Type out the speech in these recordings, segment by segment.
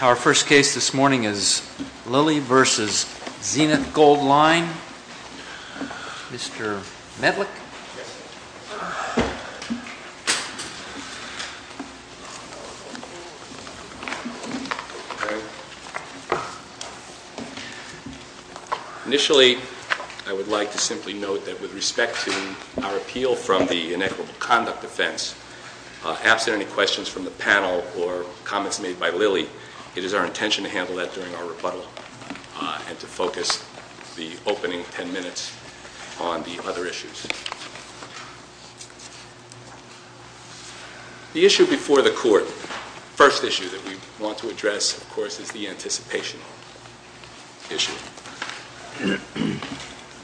Our first case this morning is Lilly v. Zenith Goldline. Mr. Medlick. Initially, I would like to simply note that with respect to our appeal from the Inequitable Act, it is our intention to handle that during our rebuttal and to focus the opening ten minutes on the other issues. The issue before the court, first issue that we want to address, of course, is the anticipation issue.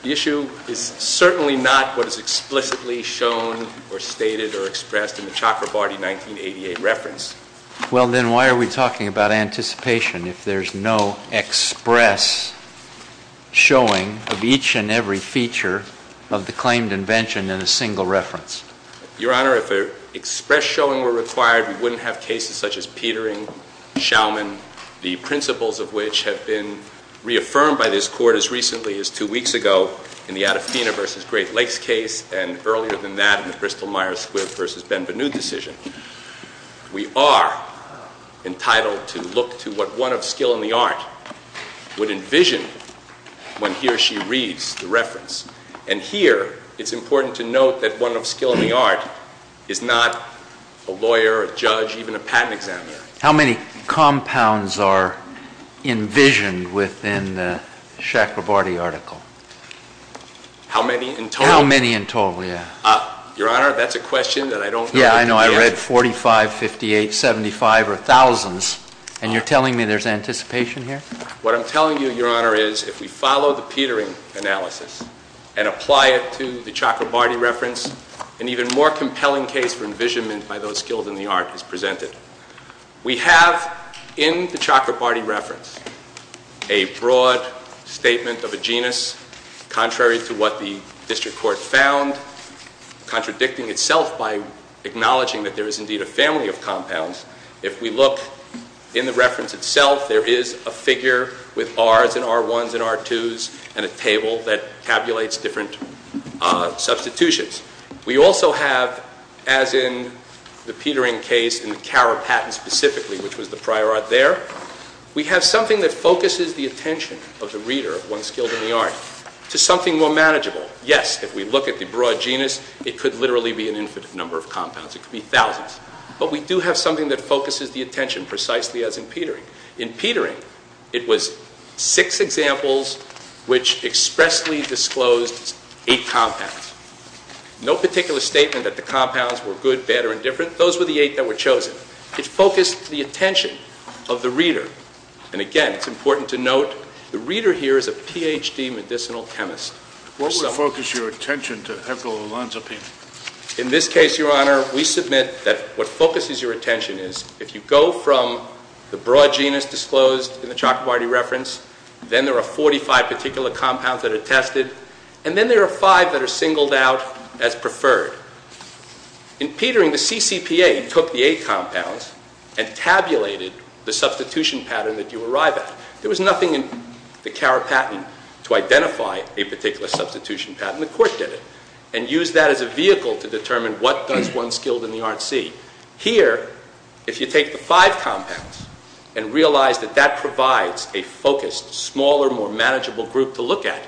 The issue is certainly not what is explicitly shown or stated or expressed in the Chakrabarty 1988 reference. Well, then, why are we talking about anticipation if there is no express showing of each and every feature of the claimed invention in a single reference? Your Honor, if an express showing were required, we wouldn't have cases such as Petering, Schaumann, the principles of which have been reaffirmed by this Court as recently as two weeks ago in the Adafina v. Great Lakes case and earlier than that in the Bristol-Myers v. Benvenute decision. We are entitled to look to what one of skill in the art would envision when he or she reads the reference. And here, it's important to note that one of skill in the art is not a lawyer, a judge, even a patent examiner. How many compounds are envisioned within the Chakrabarty article? How many in total? How many in total, yes. Your Honor, that's a question that I don't know. Yeah, I know. I read 45, 58, 75, or thousands. And you're telling me there's anticipation here? What I'm telling you, Your Honor, is if we follow the Petering analysis and apply it to the Chakrabarty reference, an even more compelling case for envisionment by those skills in the art is presented. We have in the Chakrabarty reference a broad statement of a genus contrary to what the contradicting itself by acknowledging that there is indeed a family of compounds. If we look in the reference itself, there is a figure with Rs and R1s and R2s and a table that tabulates different substitutions. We also have, as in the Petering case in the Cower patent specifically, which was the prior art there, we have something that focuses the attention of the reader of one's skills in the art to something more manageable. Yes, if we look at the broad genus, it could literally be an infinite number of compounds. It could be thousands. But we do have something that focuses the attention precisely as in Petering. In Petering, it was six examples which expressly disclosed eight compounds. No particular statement that the compounds were good, bad, or indifferent. Those were the eight that were chosen. It focused the attention of the reader. And again, it's important to note, the reader here is a Ph.D. medicinal chemist. What would focus your attention to Heffel and Lanzapin? In this case, Your Honor, we submit that what focuses your attention is, if you go from the broad genus disclosed in the Chakrabarty reference, then there are 45 particular compounds that are tested, and then there are five that are singled out as preferred. In Petering, the CCPA took the eight compounds and tabulated the substitution pattern that you arrive at. There was nothing in the CARA patent to identify a particular substitution pattern. The Court did it and used that as a vehicle to determine what does one skilled in the art see. Here, if you take the five compounds and realize that that provides a focused, smaller, more manageable group to look at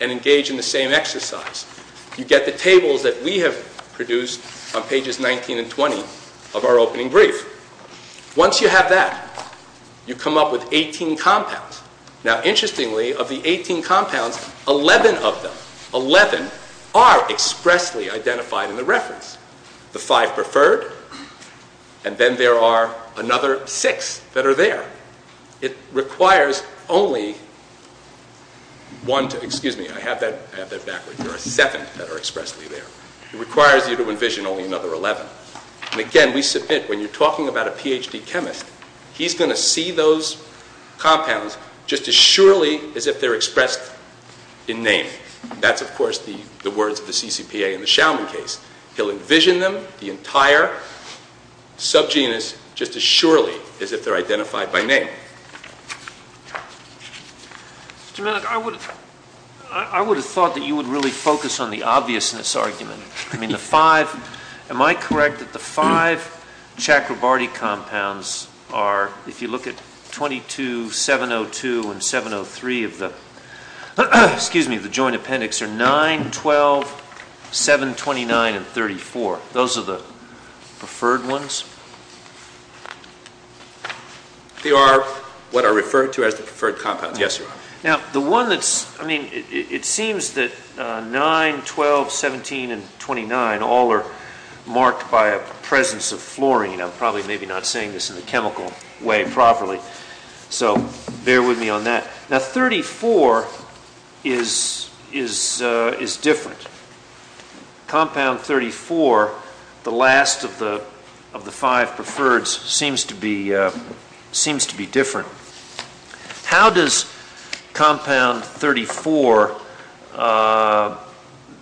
and engage in the same exercise, you get the tables that we have produced on pages 19 and 20 of our opening brief. Once you have that, you come up with 18 compounds. Now, interestingly, of the 18 compounds, 11 of them, 11 are expressly identified in the reference. The five preferred, and then there are another six that are there. It requires only one to, excuse me, I have that, I have that backwards. There are seven that are expressly there. It requires you to envision only another 11. Again, we submit, when you are talking about a Ph.D. chemist, he is going to see those compounds just as surely as if they are expressed in name. That is, of course, the words of the CCPA in the Schaumann case. He will envision them, the entire subgenus, just as surely as if they are identified by name. Mr. Malik, I would have thought that you would really focus on the obviousness argument. I mean, the five, am I correct that the five Chakrabarti compounds are, if you look at 22, 702, and 703 of the, excuse me, of the joint appendix, are 9, 12, 7, 29, and 34. Those are the preferred ones? They are what are referred to as the preferred compounds, yes, Your Honor. Now, the one that is, I mean, it seems that 9, 12, 17, and 29 all are marked by a presence of fluorine. I am probably maybe not saying this in the chemical way properly, so bear with me on that. Now, 34 is different. Compound 34, the last of the five preferreds, seems to be different. How does compound 34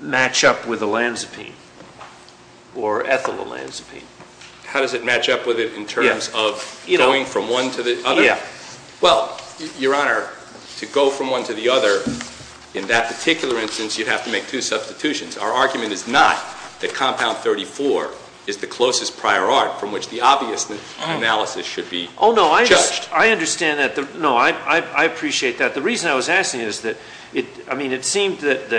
match up with olanzapine or ethylolanzapine? How does it match up with it in terms of going from one to the other? Well, Your Honor, to go from one to the other, in that particular instance, you would have to make two substitutions. Our argument is not that compound 34 is the closest prior art from which the obvious analysis should be judged. Oh, no. I understand that. No, I appreciate that. The reason I was asking is that, I mean, it seemed that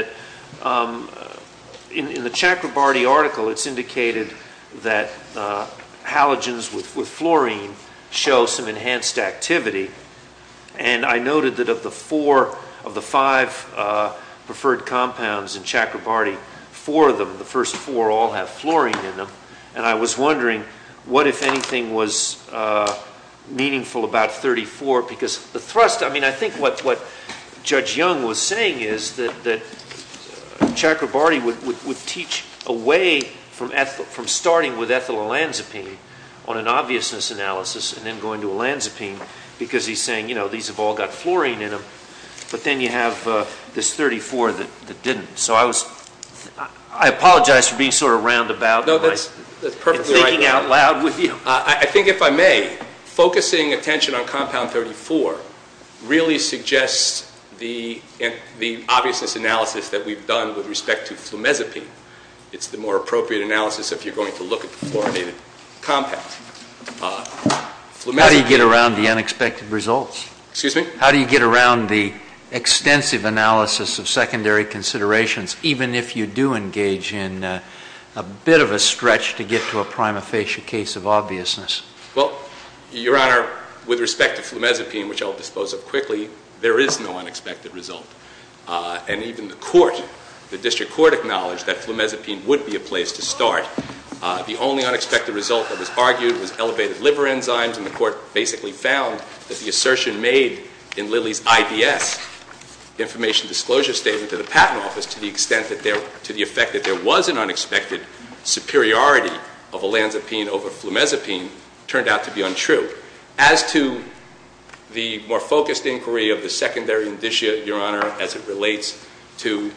in the Chakrabarti article, it is indicated that halogens with fluorine show some enhanced activity. And I noted that of the four of the five preferred compounds in Chakrabarti, four of them, the first four all have fluorine in them. And I was wondering, what, if anything, was meaningful about 34? Because the thrust, I mean, I think what Judge Young was saying is that Chakrabarti would teach away from starting with ethylolanzapine on an obviousness analysis and then going to olanzapine because he's saying, you know, these have all got fluorine in them. But then you have this 34 that didn't. So I was, I apologize for being sort of roundabout in thinking out loud with you. I think if I may, focusing attention on compound 34 really suggests the obviousness analysis that we've done with respect to flumezapine. It's the more appropriate analysis if you're going to look at the fluorinated compound. How do you get around the unexpected results? Excuse me? How do you get around the extensive analysis of secondary considerations, even if you do engage in a bit of a stretch to get to a prima facie case of obviousness? Well, Your Honor, with respect to flumezapine, which I'll dispose of quickly, there is no unexpected result. And even the court, the district court, acknowledged that flumezapine would be a place to start. The only unexpected result that was argued was elevated liver enzymes, and the court basically found that the assertion made in Lilly's IDS, information disclosure statement to the patent office, to the extent that there, to the effect that there was an unexpected superiority of olanzapine over flumezapine, turned out to be untrue. As to the more focused inquiry of the secondary indicia, Your Honor, as it relates to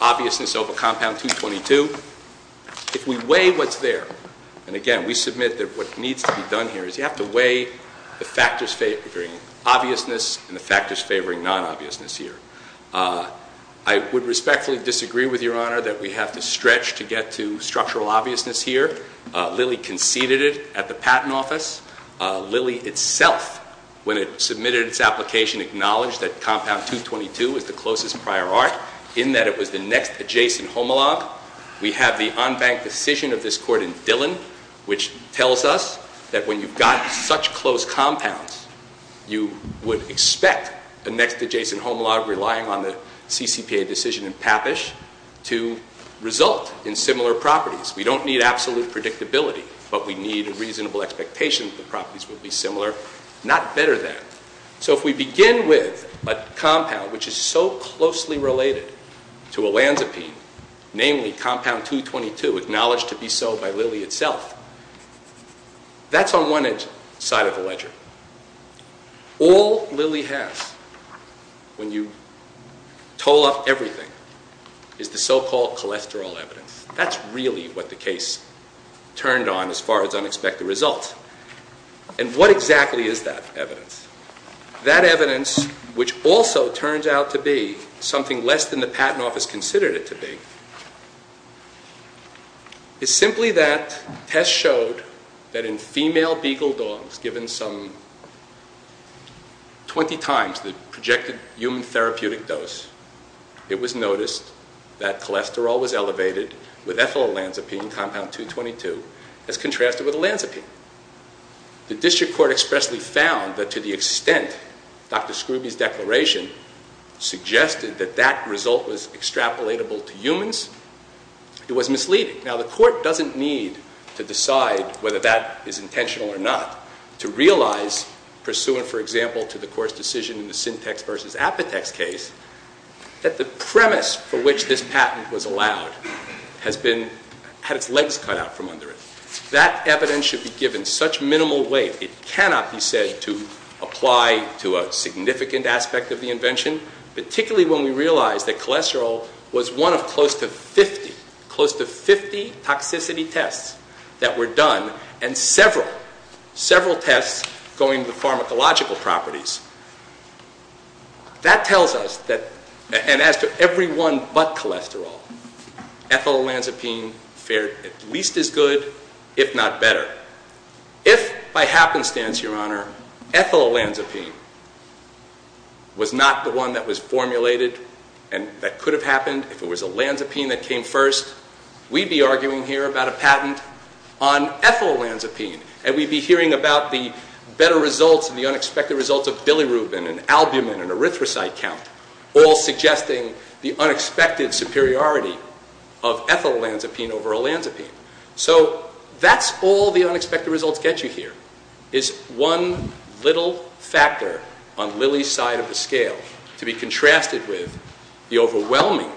obviousness over compound 222, if we weigh what's there, and again, we submit that what needs to be weighed, the factors favoring obviousness and the factors favoring non-obviousness here. I would respectfully disagree with Your Honor that we have to stretch to get to structural obviousness here. Lilly conceded it at the patent office. Lilly itself, when it submitted its application, acknowledged that compound 222 is the closest prior art, in that it was the next adjacent homologue. We have the unbanked decision of this court in Dillon, which tells us that when you've got such close compounds, you would expect a next adjacent homologue relying on the CCPA decision in Pappish to result in similar properties. We don't need absolute predictability, but we need a reasonable expectation that the properties would be similar, not better than. So if we begin with a compound which is so closely related to olanzapine, namely compound 222, acknowledged to be so by Lilly itself, that's on one side of the ledger. All Lilly has, when you toll up everything, is the so-called cholesterol evidence. That's really what the case turned on as far as unexpected results. And what exactly is that evidence? That evidence, which also turns out to be something less than the patent office considered it to be, is simply that test showed that in female beagle dogs, given some 20 times the projected human therapeutic dose, it was noticed that cholesterol was elevated with ethyl olanzapine, compound 222, as contrasted with olanzapine. The district court expressly found that to the extent Dr. Scruby's declaration suggested that that result was extrapolatable to humans, it was misleading. Now the court doesn't need to decide whether that is intentional or not to realize, pursuant for example to the court's decision in the Syntex v. Apotex case, that the premise for which this patent was allowed had its legs cut out from under it. That evidence should be given such minimal weight, it cannot be said to apply to a significant aspect of the invention, particularly when we realize that cholesterol was one of close to 50, close to 50 toxicity tests that were done, and several, several tests going to the pharmacological properties. That tells us that, and as to everyone but cholesterol, ethyl olanzapine fared at least as good, if not better. If by happenstance, Your Honor, ethyl olanzapine was not the one that was formulated and that could have happened, if it was olanzapine that came first, we'd be arguing here about a patent on ethyl olanzapine, and we'd be hearing about the better results and the unexpected results of bilirubin and albumin and erythrocyte count, all suggesting the unexpected superiority of ethyl olanzapine over olanzapine. So, that's all the unexpected results get you here, is one little factor on Lilly's side of the scale to be contrasted with the overwhelming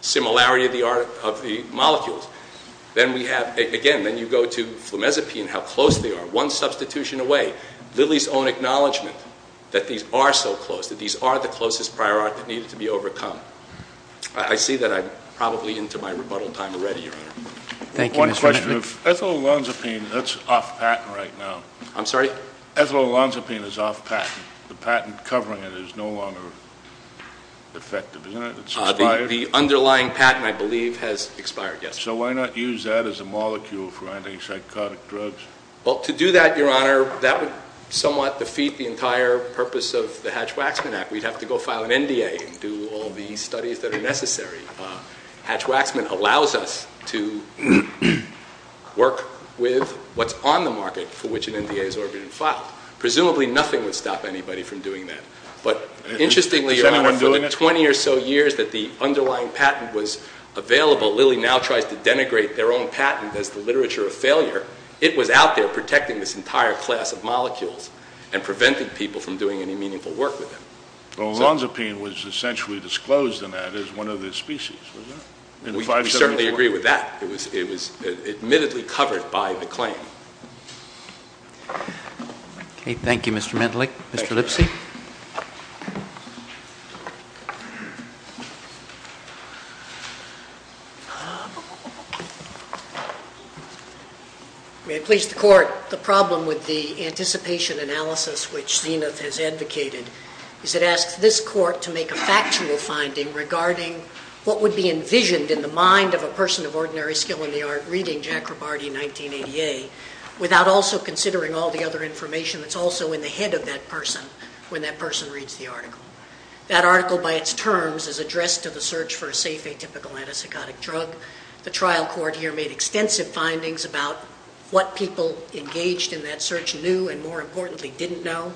similarity of the molecules. Then we have, again, then you go to flumezapine, how close they are, one substitution away. Lilly's own acknowledgment that these are so close, that these are the closest prior art that needed to be overcome. I see that I'm probably into my rebuttal time already, Your Honor. Thank you, Mr. Hennepin. One question, if ethyl olanzapine, that's off patent right now. I'm sorry? Ethyl olanzapine is off patent. The patent covering it is no longer effective, isn't it? It's expired? The underlying patent, I believe, has expired, yes. So, why not use that as a molecule for antipsychotic drugs? Well, to do that, Your Honor, that would somewhat defeat the entire purpose of the Hatch-Waxman Act. We'd have to go file an NDA and do all the studies that are necessary. Hatch-Waxman allows us to work with what's on the market for which an NDA is ordered and filed. Presumably, nothing would stop anybody from doing that. But, interestingly, Your Honor, for the 20 or so years that the underlying patent was available, Lilly now tries to denigrate their own patent as the literature of failure. It was out there protecting this entire class of molecules and preventing people from doing any meaningful work with it. Well, olanzapine was essentially disclosed in that as one of the species, wasn't it? We certainly agree with that. It was admittedly covered by the claim. Okay. Thank you, Mr. Mendelick. Thank you, Your Honor. Mr. Lipsy? May it please the Court, the problem with the anticipation analysis which Zenith has advocated is it asks this Court to make a factual finding regarding what would be envisioned in the mind of a person of ordinary skill in the art reading Jack Robardi, 1988, without also considering all the other information that's also in the head of that person when that person reads the article. That article, by its terms, is addressed to the search for a safe atypical antipsychotic drug. The trial court here made extensive findings about what people engaged in that search knew and, more importantly, didn't know.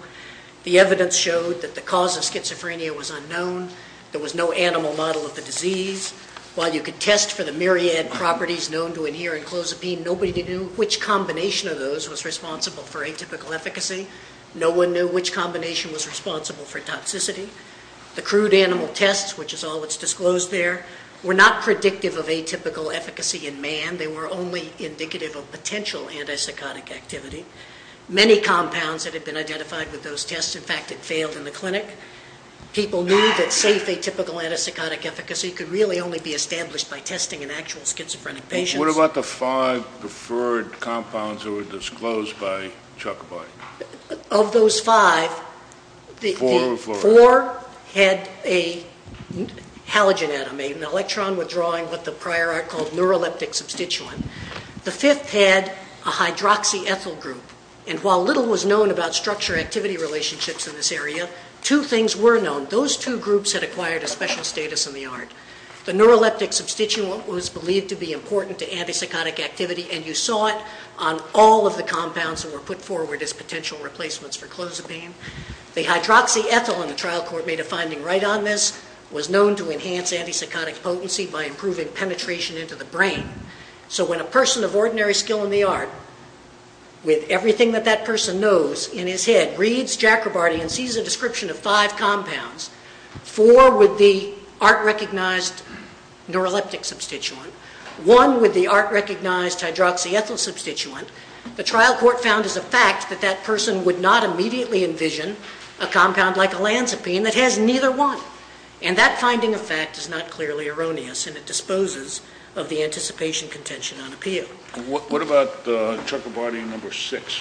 The evidence showed that the cause of schizophrenia was unknown. There was no animal model of the disease. While you could test for the myriad properties known to adhere in clozapine, nobody knew which combination of those was responsible for atypical efficacy. No one knew which combination was responsible for toxicity. The crude animal tests, which is all that's disclosed there, were not predictive of atypical efficacy in man. They were only indicative of potential antipsychotic activity. Many compounds that had been identified with those tests, in fact, had failed in the clinic. People knew that safe atypical antipsychotic efficacy could really only be established by testing in actual schizophrenic patients. What about the five preferred compounds that were disclosed by Chuck Boyd? Of those five, the four had a halogen atom, an electron withdrawing what the prior art called neuroleptic substituent. The fifth had a hydroxyethyl group, and while little was known about structure activity relationships in this area, two things were known. Those two groups had acquired a special status in the art. The neuroleptic substituent was believed to be important to antipsychotic activity, and you saw it on all of the compounds that were put forward as potential replacements for clozapine. The hydroxyethyl in the trial court made a finding right on this, was known to enhance antipsychotic potency by improving penetration into the brain. So when a person of ordinary skill in the art, with everything that that person knows in his head, reads Jacobartian and sees a description of five compounds, four with the art-recognized neuroleptic substituent, one with the art-recognized hydroxyethyl substituent, the trial court found as a fact that that person would not immediately envision a compound like elanzapine that has neither one. And that finding of fact is not clearly erroneous, and it disposes of the anticipation contention on appeal. What about Trucabartian No. 6,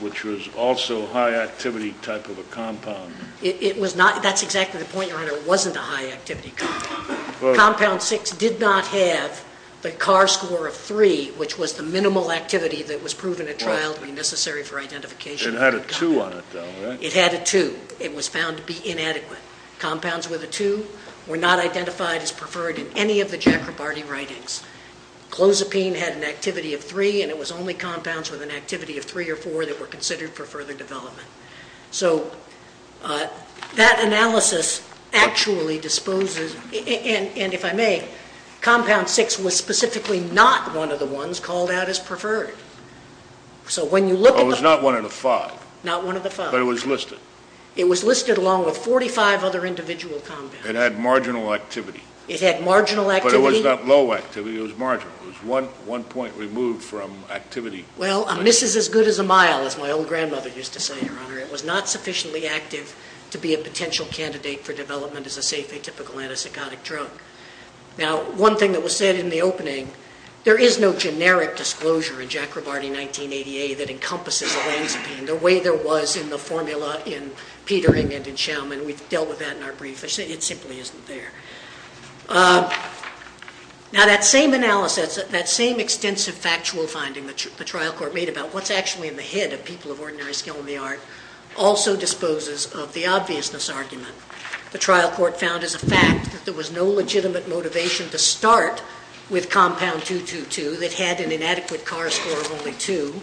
which was also a high-activity type of a compound? It was not. That's exactly the point, Your Honor. It wasn't a high-activity compound. Compound 6 did not have the CAR score of 3, which was the minimal activity that was proven at trial to be necessary for identification. It had a 2 on it, though, right? It had a 2. And it was found to be inadequate. Compounds with a 2 were not identified as preferred in any of the Jacobartian writings. Clozapine had an activity of 3, and it was only compounds with an activity of 3 or 4 that were considered for further development. So that analysis actually disposes, and if I may, compound 6 was specifically not one of the ones called out as preferred. So when you look at the… It was not one of the five. Not one of the five. But it was listed. It was listed along with 45 other individual compounds. It had marginal activity. It had marginal activity. But it was not low activity. It was marginal. It was one point removed from activity. Well, a miss is as good as a mile, as my old grandmother used to say, Your Honor. It was not sufficiently active to be a potential candidate for development as a safe atypical antipsychotic drug. Now, one thing that was said in the opening, there is no generic disclosure in Jacobarty that encompasses olanzapine the way there was in the formula in Petering and in Schaumann. We've dealt with that in our brief. It simply isn't there. Now, that same analysis, that same extensive factual finding the trial court made about what's actually in the head of people of ordinary skill in the art also disposes of the obviousness argument the trial court found as a fact that there was no legitimate motivation to start with compound 2, 2, 2 that had an inadequate CAR score of only 2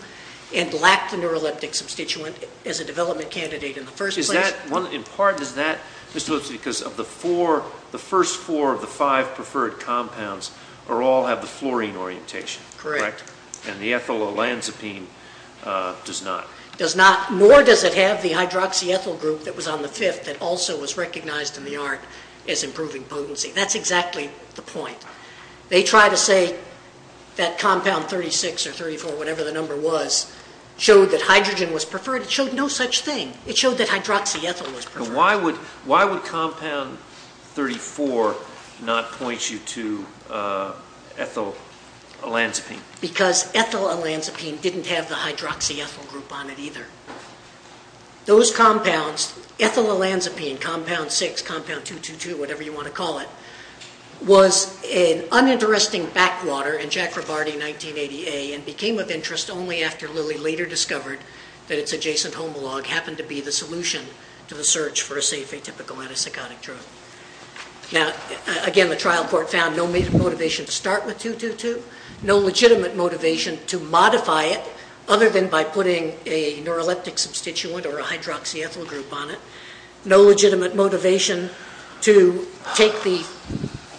and lacked the neuroleptic substituent as a development candidate in the first place. Is that one? In part, is that because of the first four of the five preferred compounds all have the fluorine orientation, correct? Correct. And the ethyl olanzapine does not. Does not. Nor does it have the hydroxyethyl group that was on the fifth that also was recognized in the art as improving potency. That's exactly the point. They try to say that compound 36 or 34, whatever the number was, showed that hydrogen was preferred. It showed no such thing. It showed that hydroxyethyl was preferred. Why would compound 34 not point you to ethyl olanzapine? Because ethyl olanzapine didn't have the hydroxyethyl group on it either. Those compounds, ethyl olanzapine, compound 6, compound 2, 2, 2, whatever you want to call it, was an uninteresting backwater in Jack Ribardi in 1988 and became of interest only after Lilly later discovered that its adjacent homolog happened to be the solution to the search for a safe atypical antipsychotic drug. Now, again, the trial court found no motivation to start with 2, 2, 2, no legitimate motivation to modify it other than by putting a neuroleptic substituent or a hydroxyethyl group on it, no legitimate motivation to take the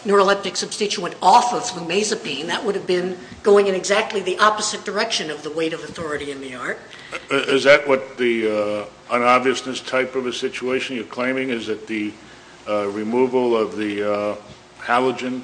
neuroleptic substituent off of flumesapine. That would have been going in exactly the opposite direction of the weight of authority in the art. Is that what the unobviousness type of a situation you're claiming? Is it the removal of the halogen?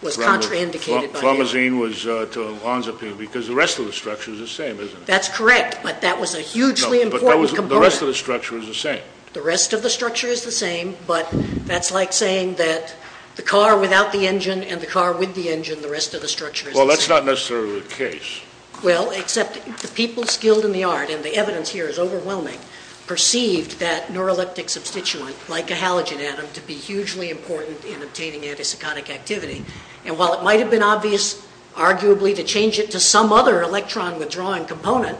It was contraindicated by halogen. Halogen was to olanzapine because the rest of the structure is the same, isn't it? That's correct, but that was a hugely important component. No, but the rest of the structure is the same. The rest of the structure is the same, but that's like saying that the car without the engine and the car with the engine, the rest of the structure is the same. Well, that's not necessarily the case. Well, except the people skilled in the art, and the evidence here is overwhelming, perceived that neuroleptic substituent, like a halogen atom, to be hugely important in obtaining antipsychotic activity. And while it might have been obvious, arguably, to change it to some other electron-withdrawing component,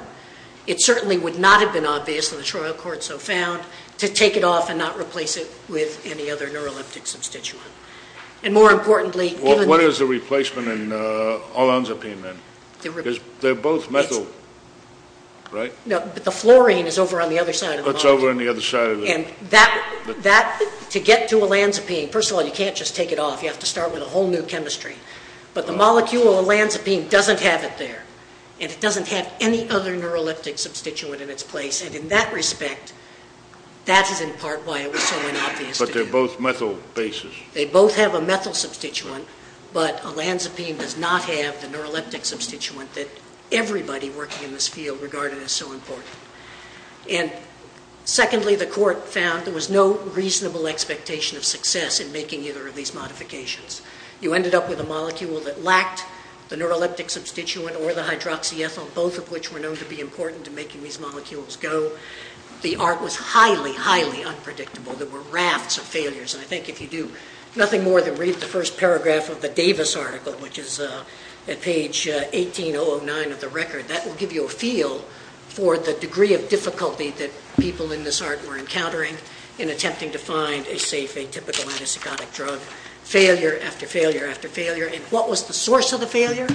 it certainly would not have been obvious in the trial court so found to take it off and not replace it with any other neuroleptic substituent. And more importantly... What is the replacement in olanzapine then? They're both metal, right? No, but the fluorine is over on the other side of the molecule. It's over on the other side of the... And that, to get to olanzapine, first of all, you can't just take it off. You have to start with a whole new chemistry. But the molecule olanzapine doesn't have it there, and it doesn't have any other neuroleptic substituent in its place. And in that respect, that is in part why it was so unobvious. But they're both metal bases. They both have a metal substituent, but olanzapine does not have the neuroleptic substituent that everybody working in this field regarded as so important. And secondly, the court found there was no reasonable expectation of success in making either of these modifications. You ended up with a molecule that lacked the neuroleptic substituent or the hydroxyethyl, both of which were known to be important in making these molecules go. The art was highly, highly unpredictable. There were rafts of failures. And I think if you do nothing more than read the first paragraph of the Davis article, which is at page 1809 of the record, that will give you a feel for the degree of difficulty that people in this art were encountering in attempting to find a safe, atypical antipsychotic drug. Failure after failure after failure. And what was the source of the failure?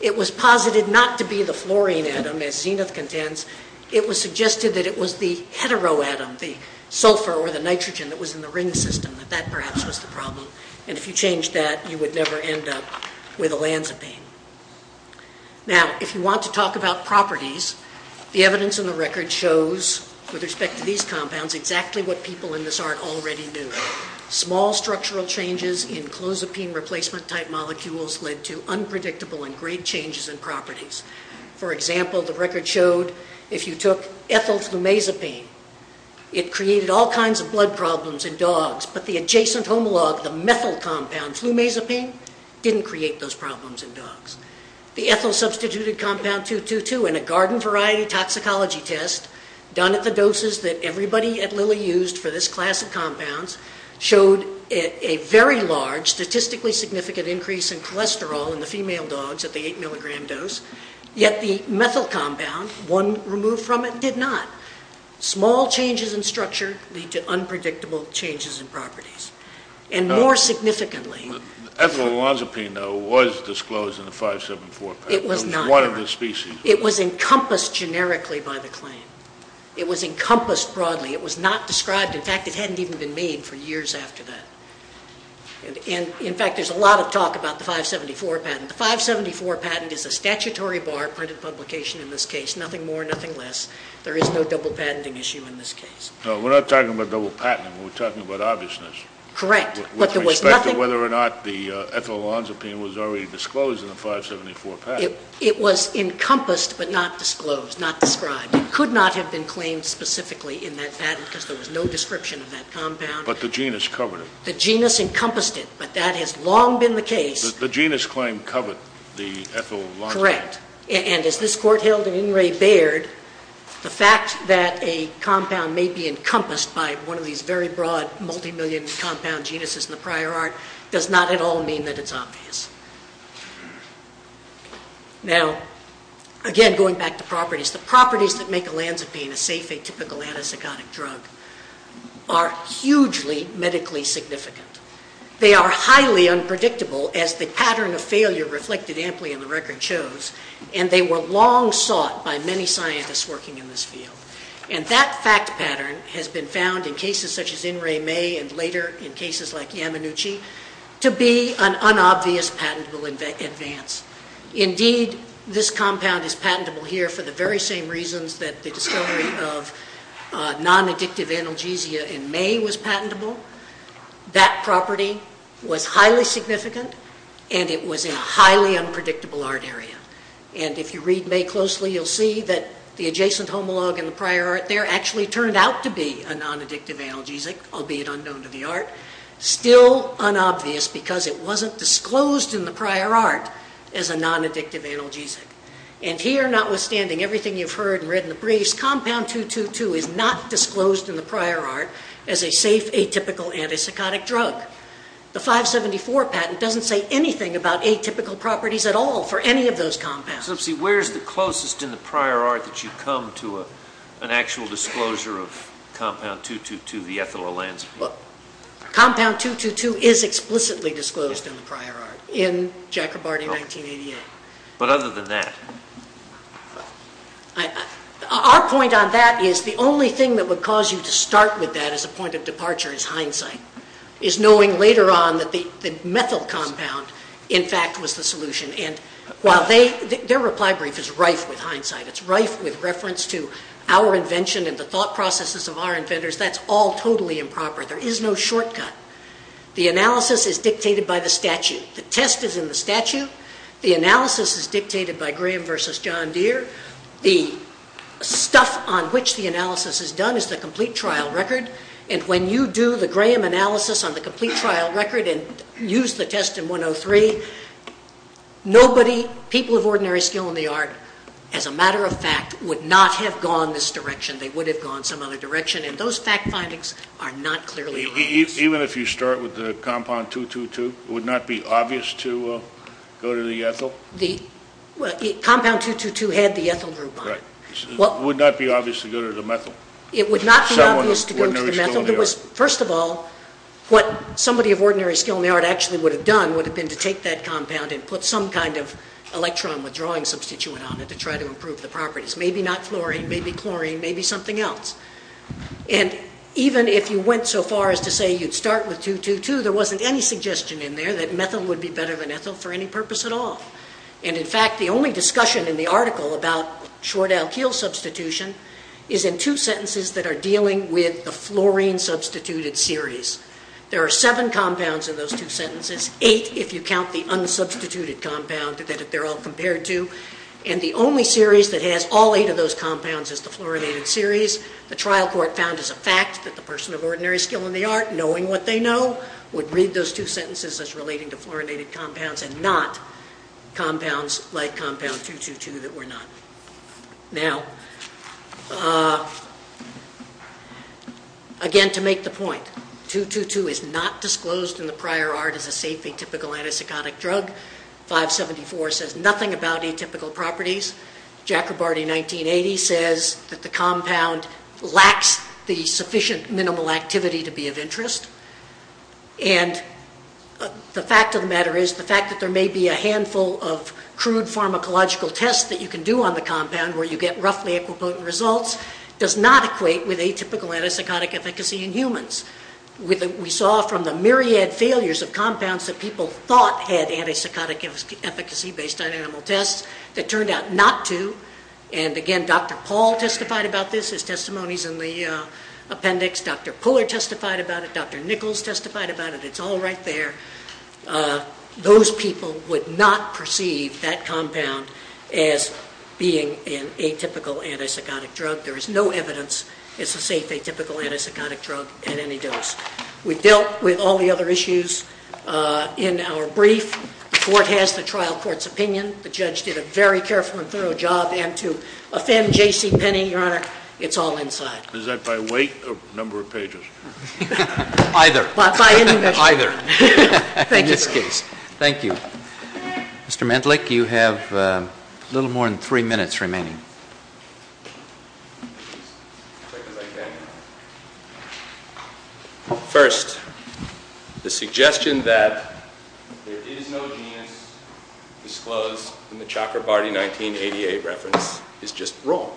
It was posited not to be the fluorine atom, as Zenith contends. It was suggested that it was the heteroatom, the sulfur or the nitrogen that was in the ring system, that that perhaps was the problem. And if you changed that, you would never end up with olanzapine. Now, if you want to talk about properties, the evidence in the record shows, with respect to these compounds, exactly what people in this art already knew. Small structural changes in clozapine replacement-type molecules led to unpredictable and great changes in properties. For example, the record showed if you took ethyl flumazepine, it created all kinds of blood problems in dogs, but the adjacent homologue, the methyl compound flumazepine, didn't create those problems in dogs. The ethyl-substituted compound 2,2,2 in a garden-variety toxicology test, done at the doses that everybody at Lilly used for this class of compounds, showed a very large statistically significant increase in cholesterol in the female dogs at the 8 milligram dose, yet the methyl compound, one removed from it, did not. Small changes in structure lead to unpredictable changes in properties. And more significantly... Ethyl olanzapine, though, was disclosed in the 574 paper. It was not. It was one of the species. It was encompassed generically by the claim. It was encompassed broadly. It was not described. In fact, it hadn't even been made for years after that. In fact, there's a lot of talk about the 574 patent. The 574 patent is a statutory bar-printed publication in this case. Nothing more, nothing less. There is no double-patenting issue in this case. We're not talking about double-patenting. We're talking about obviousness. Correct. With respect to whether or not the ethyl olanzapine was already disclosed in the 574 patent. It was encompassed but not disclosed, not described. It could not have been claimed specifically in that patent because there was no description of that compound. But the genus covered it. The genus encompassed it, but that has long been the case. The genus claim covered the ethyl olanzapine. Correct. And as this Court held in Inouye-Baird, the fact that a compound may be encompassed by one of these very broad multimillion compound genuses in the prior art does not at all mean that it's obvious. Now, again, going back to properties, the properties that make olanzapine a safe atypical antipsychotic drug are hugely medically significant. They are highly unpredictable, as the pattern of failure reflected amply in the record shows, and they were long sought by many scientists working in this field. And that fact pattern has been found in cases such as Inouye-Baird and later in cases like Yamanuchi to be an unobvious patentable advance. Indeed, this compound is patentable here for the very same reasons that the discovery of nonaddictive analgesia in May was patentable. That property was highly significant, and it was in a highly unpredictable art area. And if you read May closely, you'll see that the adjacent homologue in the prior art there actually turned out to be a nonaddictive analgesic, albeit unknown to the art, still unobvious because it wasn't disclosed in the prior art as a nonaddictive analgesic. And here, notwithstanding everything you've heard and read in the briefs, compound 222 is not disclosed in the prior art as a safe atypical antipsychotic drug. The 574 patent doesn't say anything about atypical properties at all for any of those compounds. So let's see, where's the closest in the prior art that you come to an actual disclosure of compound 222, the ethyl olanzapine? Compound 222 is explicitly disclosed in the prior art in Jacobarty, 1988. But other than that? Our point on that is the only thing that would cause you to start with that as a point of departure is hindsight, is knowing later on that the methyl compound, in fact, was the solution. And while their reply brief is rife with hindsight, it's rife with reference to our invention and the thought processes of our inventors. That's all totally improper. There is no shortcut. The analysis is dictated by the statute. The test is in the statute. The analysis is dictated by Graham versus John Deere. The stuff on which the analysis is done is the complete trial record. And when you do the Graham analysis on the complete trial record and use the test in 103, nobody, people of ordinary skill in the art, as a matter of fact, would not have gone this direction. They would have gone some other direction. And those fact findings are not clearly released. Even if you start with the compound 222, it would not be obvious to go to the ethyl? The compound 222 had the ethyl group on it. It would not be obvious to go to the methyl? It would not be obvious to go to the methyl. First of all, what somebody of ordinary skill in the art actually would have done would have been to take that compound and put some kind of electron withdrawing substituent on it to try to improve the properties. Maybe not fluorine, maybe chlorine, maybe something else. And even if you went so far as to say you'd start with 222, there wasn't any suggestion in there that methyl would be better than ethyl for any purpose at all. And in fact, the only discussion in the article about short alkyl substitution is in two sentences that are dealing with the fluorine substituted series. There are seven compounds in those two sentences, eight if you count the unsubstituted compound that they're all compared to, and the only series that has all eight of those compounds is the fluorinated series. The trial court found as a fact that the person of ordinary skill in the art, knowing what they know, would read those two sentences as relating to fluorinated compounds and not compounds like compound 222 that were not. Now, again, to make the point, 222 is not disclosed in the prior art as a safe atypical antipsychotic drug. 574 says nothing about atypical properties. Jacobardi 1980 says that the compound lacks the sufficient minimal activity to be of interest. And the fact of the matter is the fact that there may be a handful of crude pharmacological tests that you can do on the compound where you get roughly equipotent results does not equate with atypical antipsychotic efficacy in humans. We saw from the myriad failures of compounds that people thought had antipsychotic efficacy based on animal tests that turned out not to. And, again, Dr. Paul testified about this. His testimony is in the appendix. Dr. Puller testified about it. Dr. Nichols testified about it. It's all right there. Those people would not perceive that compound as being an atypical antipsychotic drug. There is no evidence it's a safe atypical antipsychotic drug at any dose. We've dealt with all the other issues in our brief. The court has the trial court's opinion. The judge did a very careful and thorough job. And to offend J.C. Penney, Your Honor, it's all inside. Is that by weight or number of pages? Either. By any measure. Either. In this case. Thank you. Mr. Mendlik, you have a little more than three minutes remaining. First, the suggestion that there is no genus disclosed in the Chakrabarti 1988 reference is just wrong.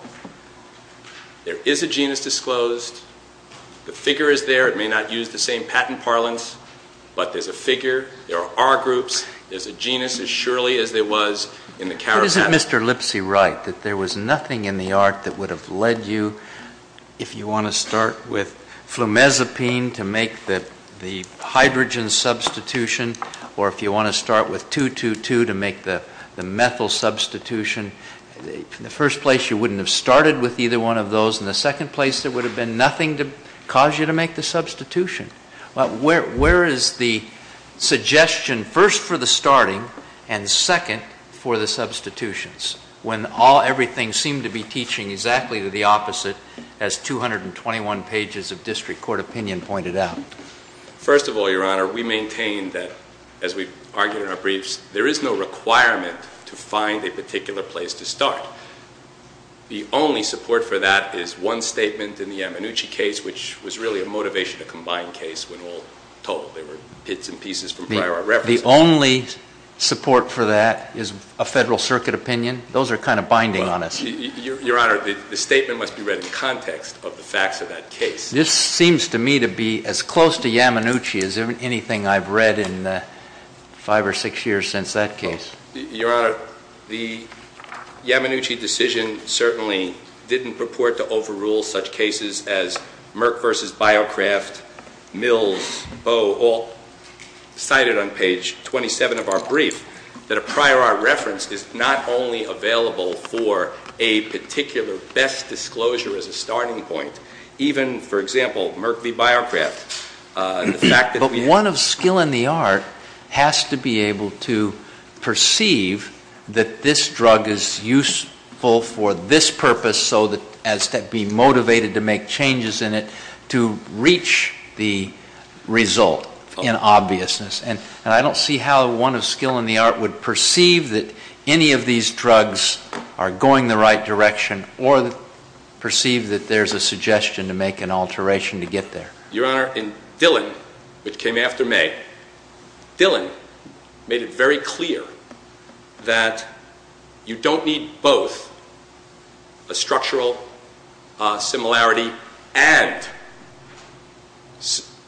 There is a genus disclosed. The figure is there. It may not use the same patent parlance. But there's a figure. There are R groups. There's a genus as surely as there was in the Karakate. But isn't Mr. Lipsy right that there was nothing in the art that would have led you, if you want to start with flumezapine to make the hydrogen substitution or if you want to start with 2, 2, 2 to make the methyl substitution, in the first place, you wouldn't have started with either one of those. In the second place, there would have been nothing to cause you to make the substitution. Where is the suggestion first for the starting and second for the substitutions when everything seemed to be teaching exactly to the opposite as 221 pages of district court opinion pointed out? First of all, Your Honor, we maintain that, as we argued in our briefs, there is no requirement to find a particular place to start. The only support for that is one statement in the Amanuchi case, which was really a motivation to combine case when all told. There were bits and pieces from prior references. The only support for that is a Federal Circuit opinion. Those are kind of binding on us. Your Honor, the statement must be read in context of the facts of that case. This seems to me to be as close to Yamanuchi as anything I've read in five or six years since that case. Your Honor, the Yamanuchi decision certainly didn't purport to overrule such cases as Merck v. BioCraft, Mills, Bo, all cited on page 27 of our brief, that a prior art reference is not only available for a particular best disclosure as a starting point, even, for example, Merck v. BioCraft. But one of skill in the art has to be able to perceive that this drug is useful for this purpose so as to be motivated to make changes in it to reach the result in obviousness. And I don't see how one of skill in the art would perceive that any of these drugs are going the right direction or perceive that there's a suggestion to make an alteration to get there. Your Honor, in Dillon, which came after May, Dillon made it very clear that you don't need both a structural similarity and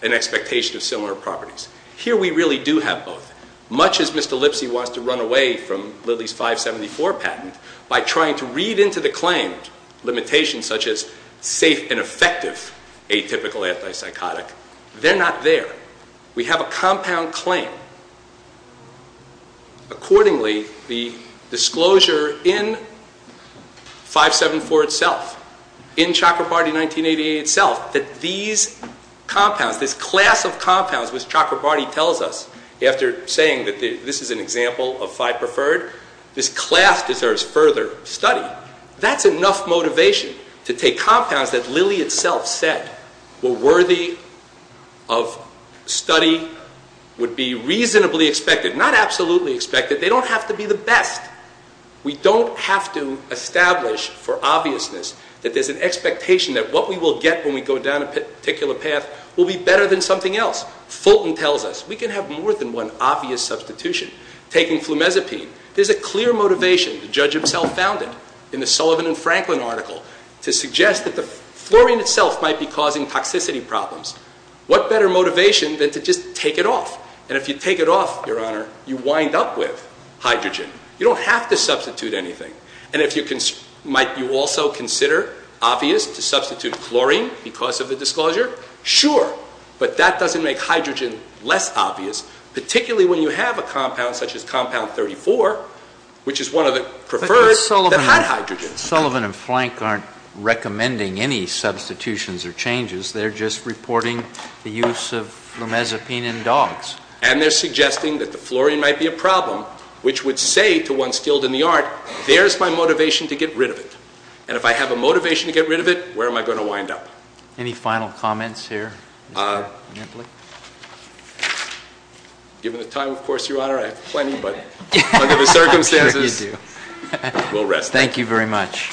an expectation of similar properties. Here we really do have both. Much as Mr. Lipsy wants to run away from Lilly's 574 patent by trying to read into the claim limitations such as safe and effective atypical antipsychotic, they're not there. We have a compound claim. Accordingly, the disclosure in 574 itself, in Chakrabarti 1988 itself, that these compounds, this class of compounds which Chakrabarti tells us after saying that this is an example of five preferred, this class deserves further study. Now, that's enough motivation to take compounds that Lilly itself said were worthy of study, would be reasonably expected, not absolutely expected. They don't have to be the best. We don't have to establish for obviousness that there's an expectation that what we will get when we go down a particular path will be better than something else. Fulton tells us we can have more than one obvious substitution. Taking flumezepine, there's a clear motivation, the judge himself found it, in the Sullivan and Franklin article, to suggest that the fluorine itself might be causing toxicity problems. What better motivation than to just take it off? And if you take it off, Your Honor, you wind up with hydrogen. You don't have to substitute anything. And if you can, might you also consider obvious to substitute chlorine because of the disclosure? Sure, but that doesn't make hydrogen less obvious, particularly when you have a compound such as compound 34, which is one of the preferred, but not hydrogen. Sullivan and Frank aren't recommending any substitutions or changes. They're just reporting the use of flumezepine in dogs. And they're suggesting that the fluorine might be a problem, which would say to one skilled in the art, there's my motivation to get rid of it. And if I have a motivation to get rid of it, where am I going to wind up? Any final comments here? Given the time, of course, Your Honor, I have plenty, but under the circumstances, we'll rest. Thank you very much.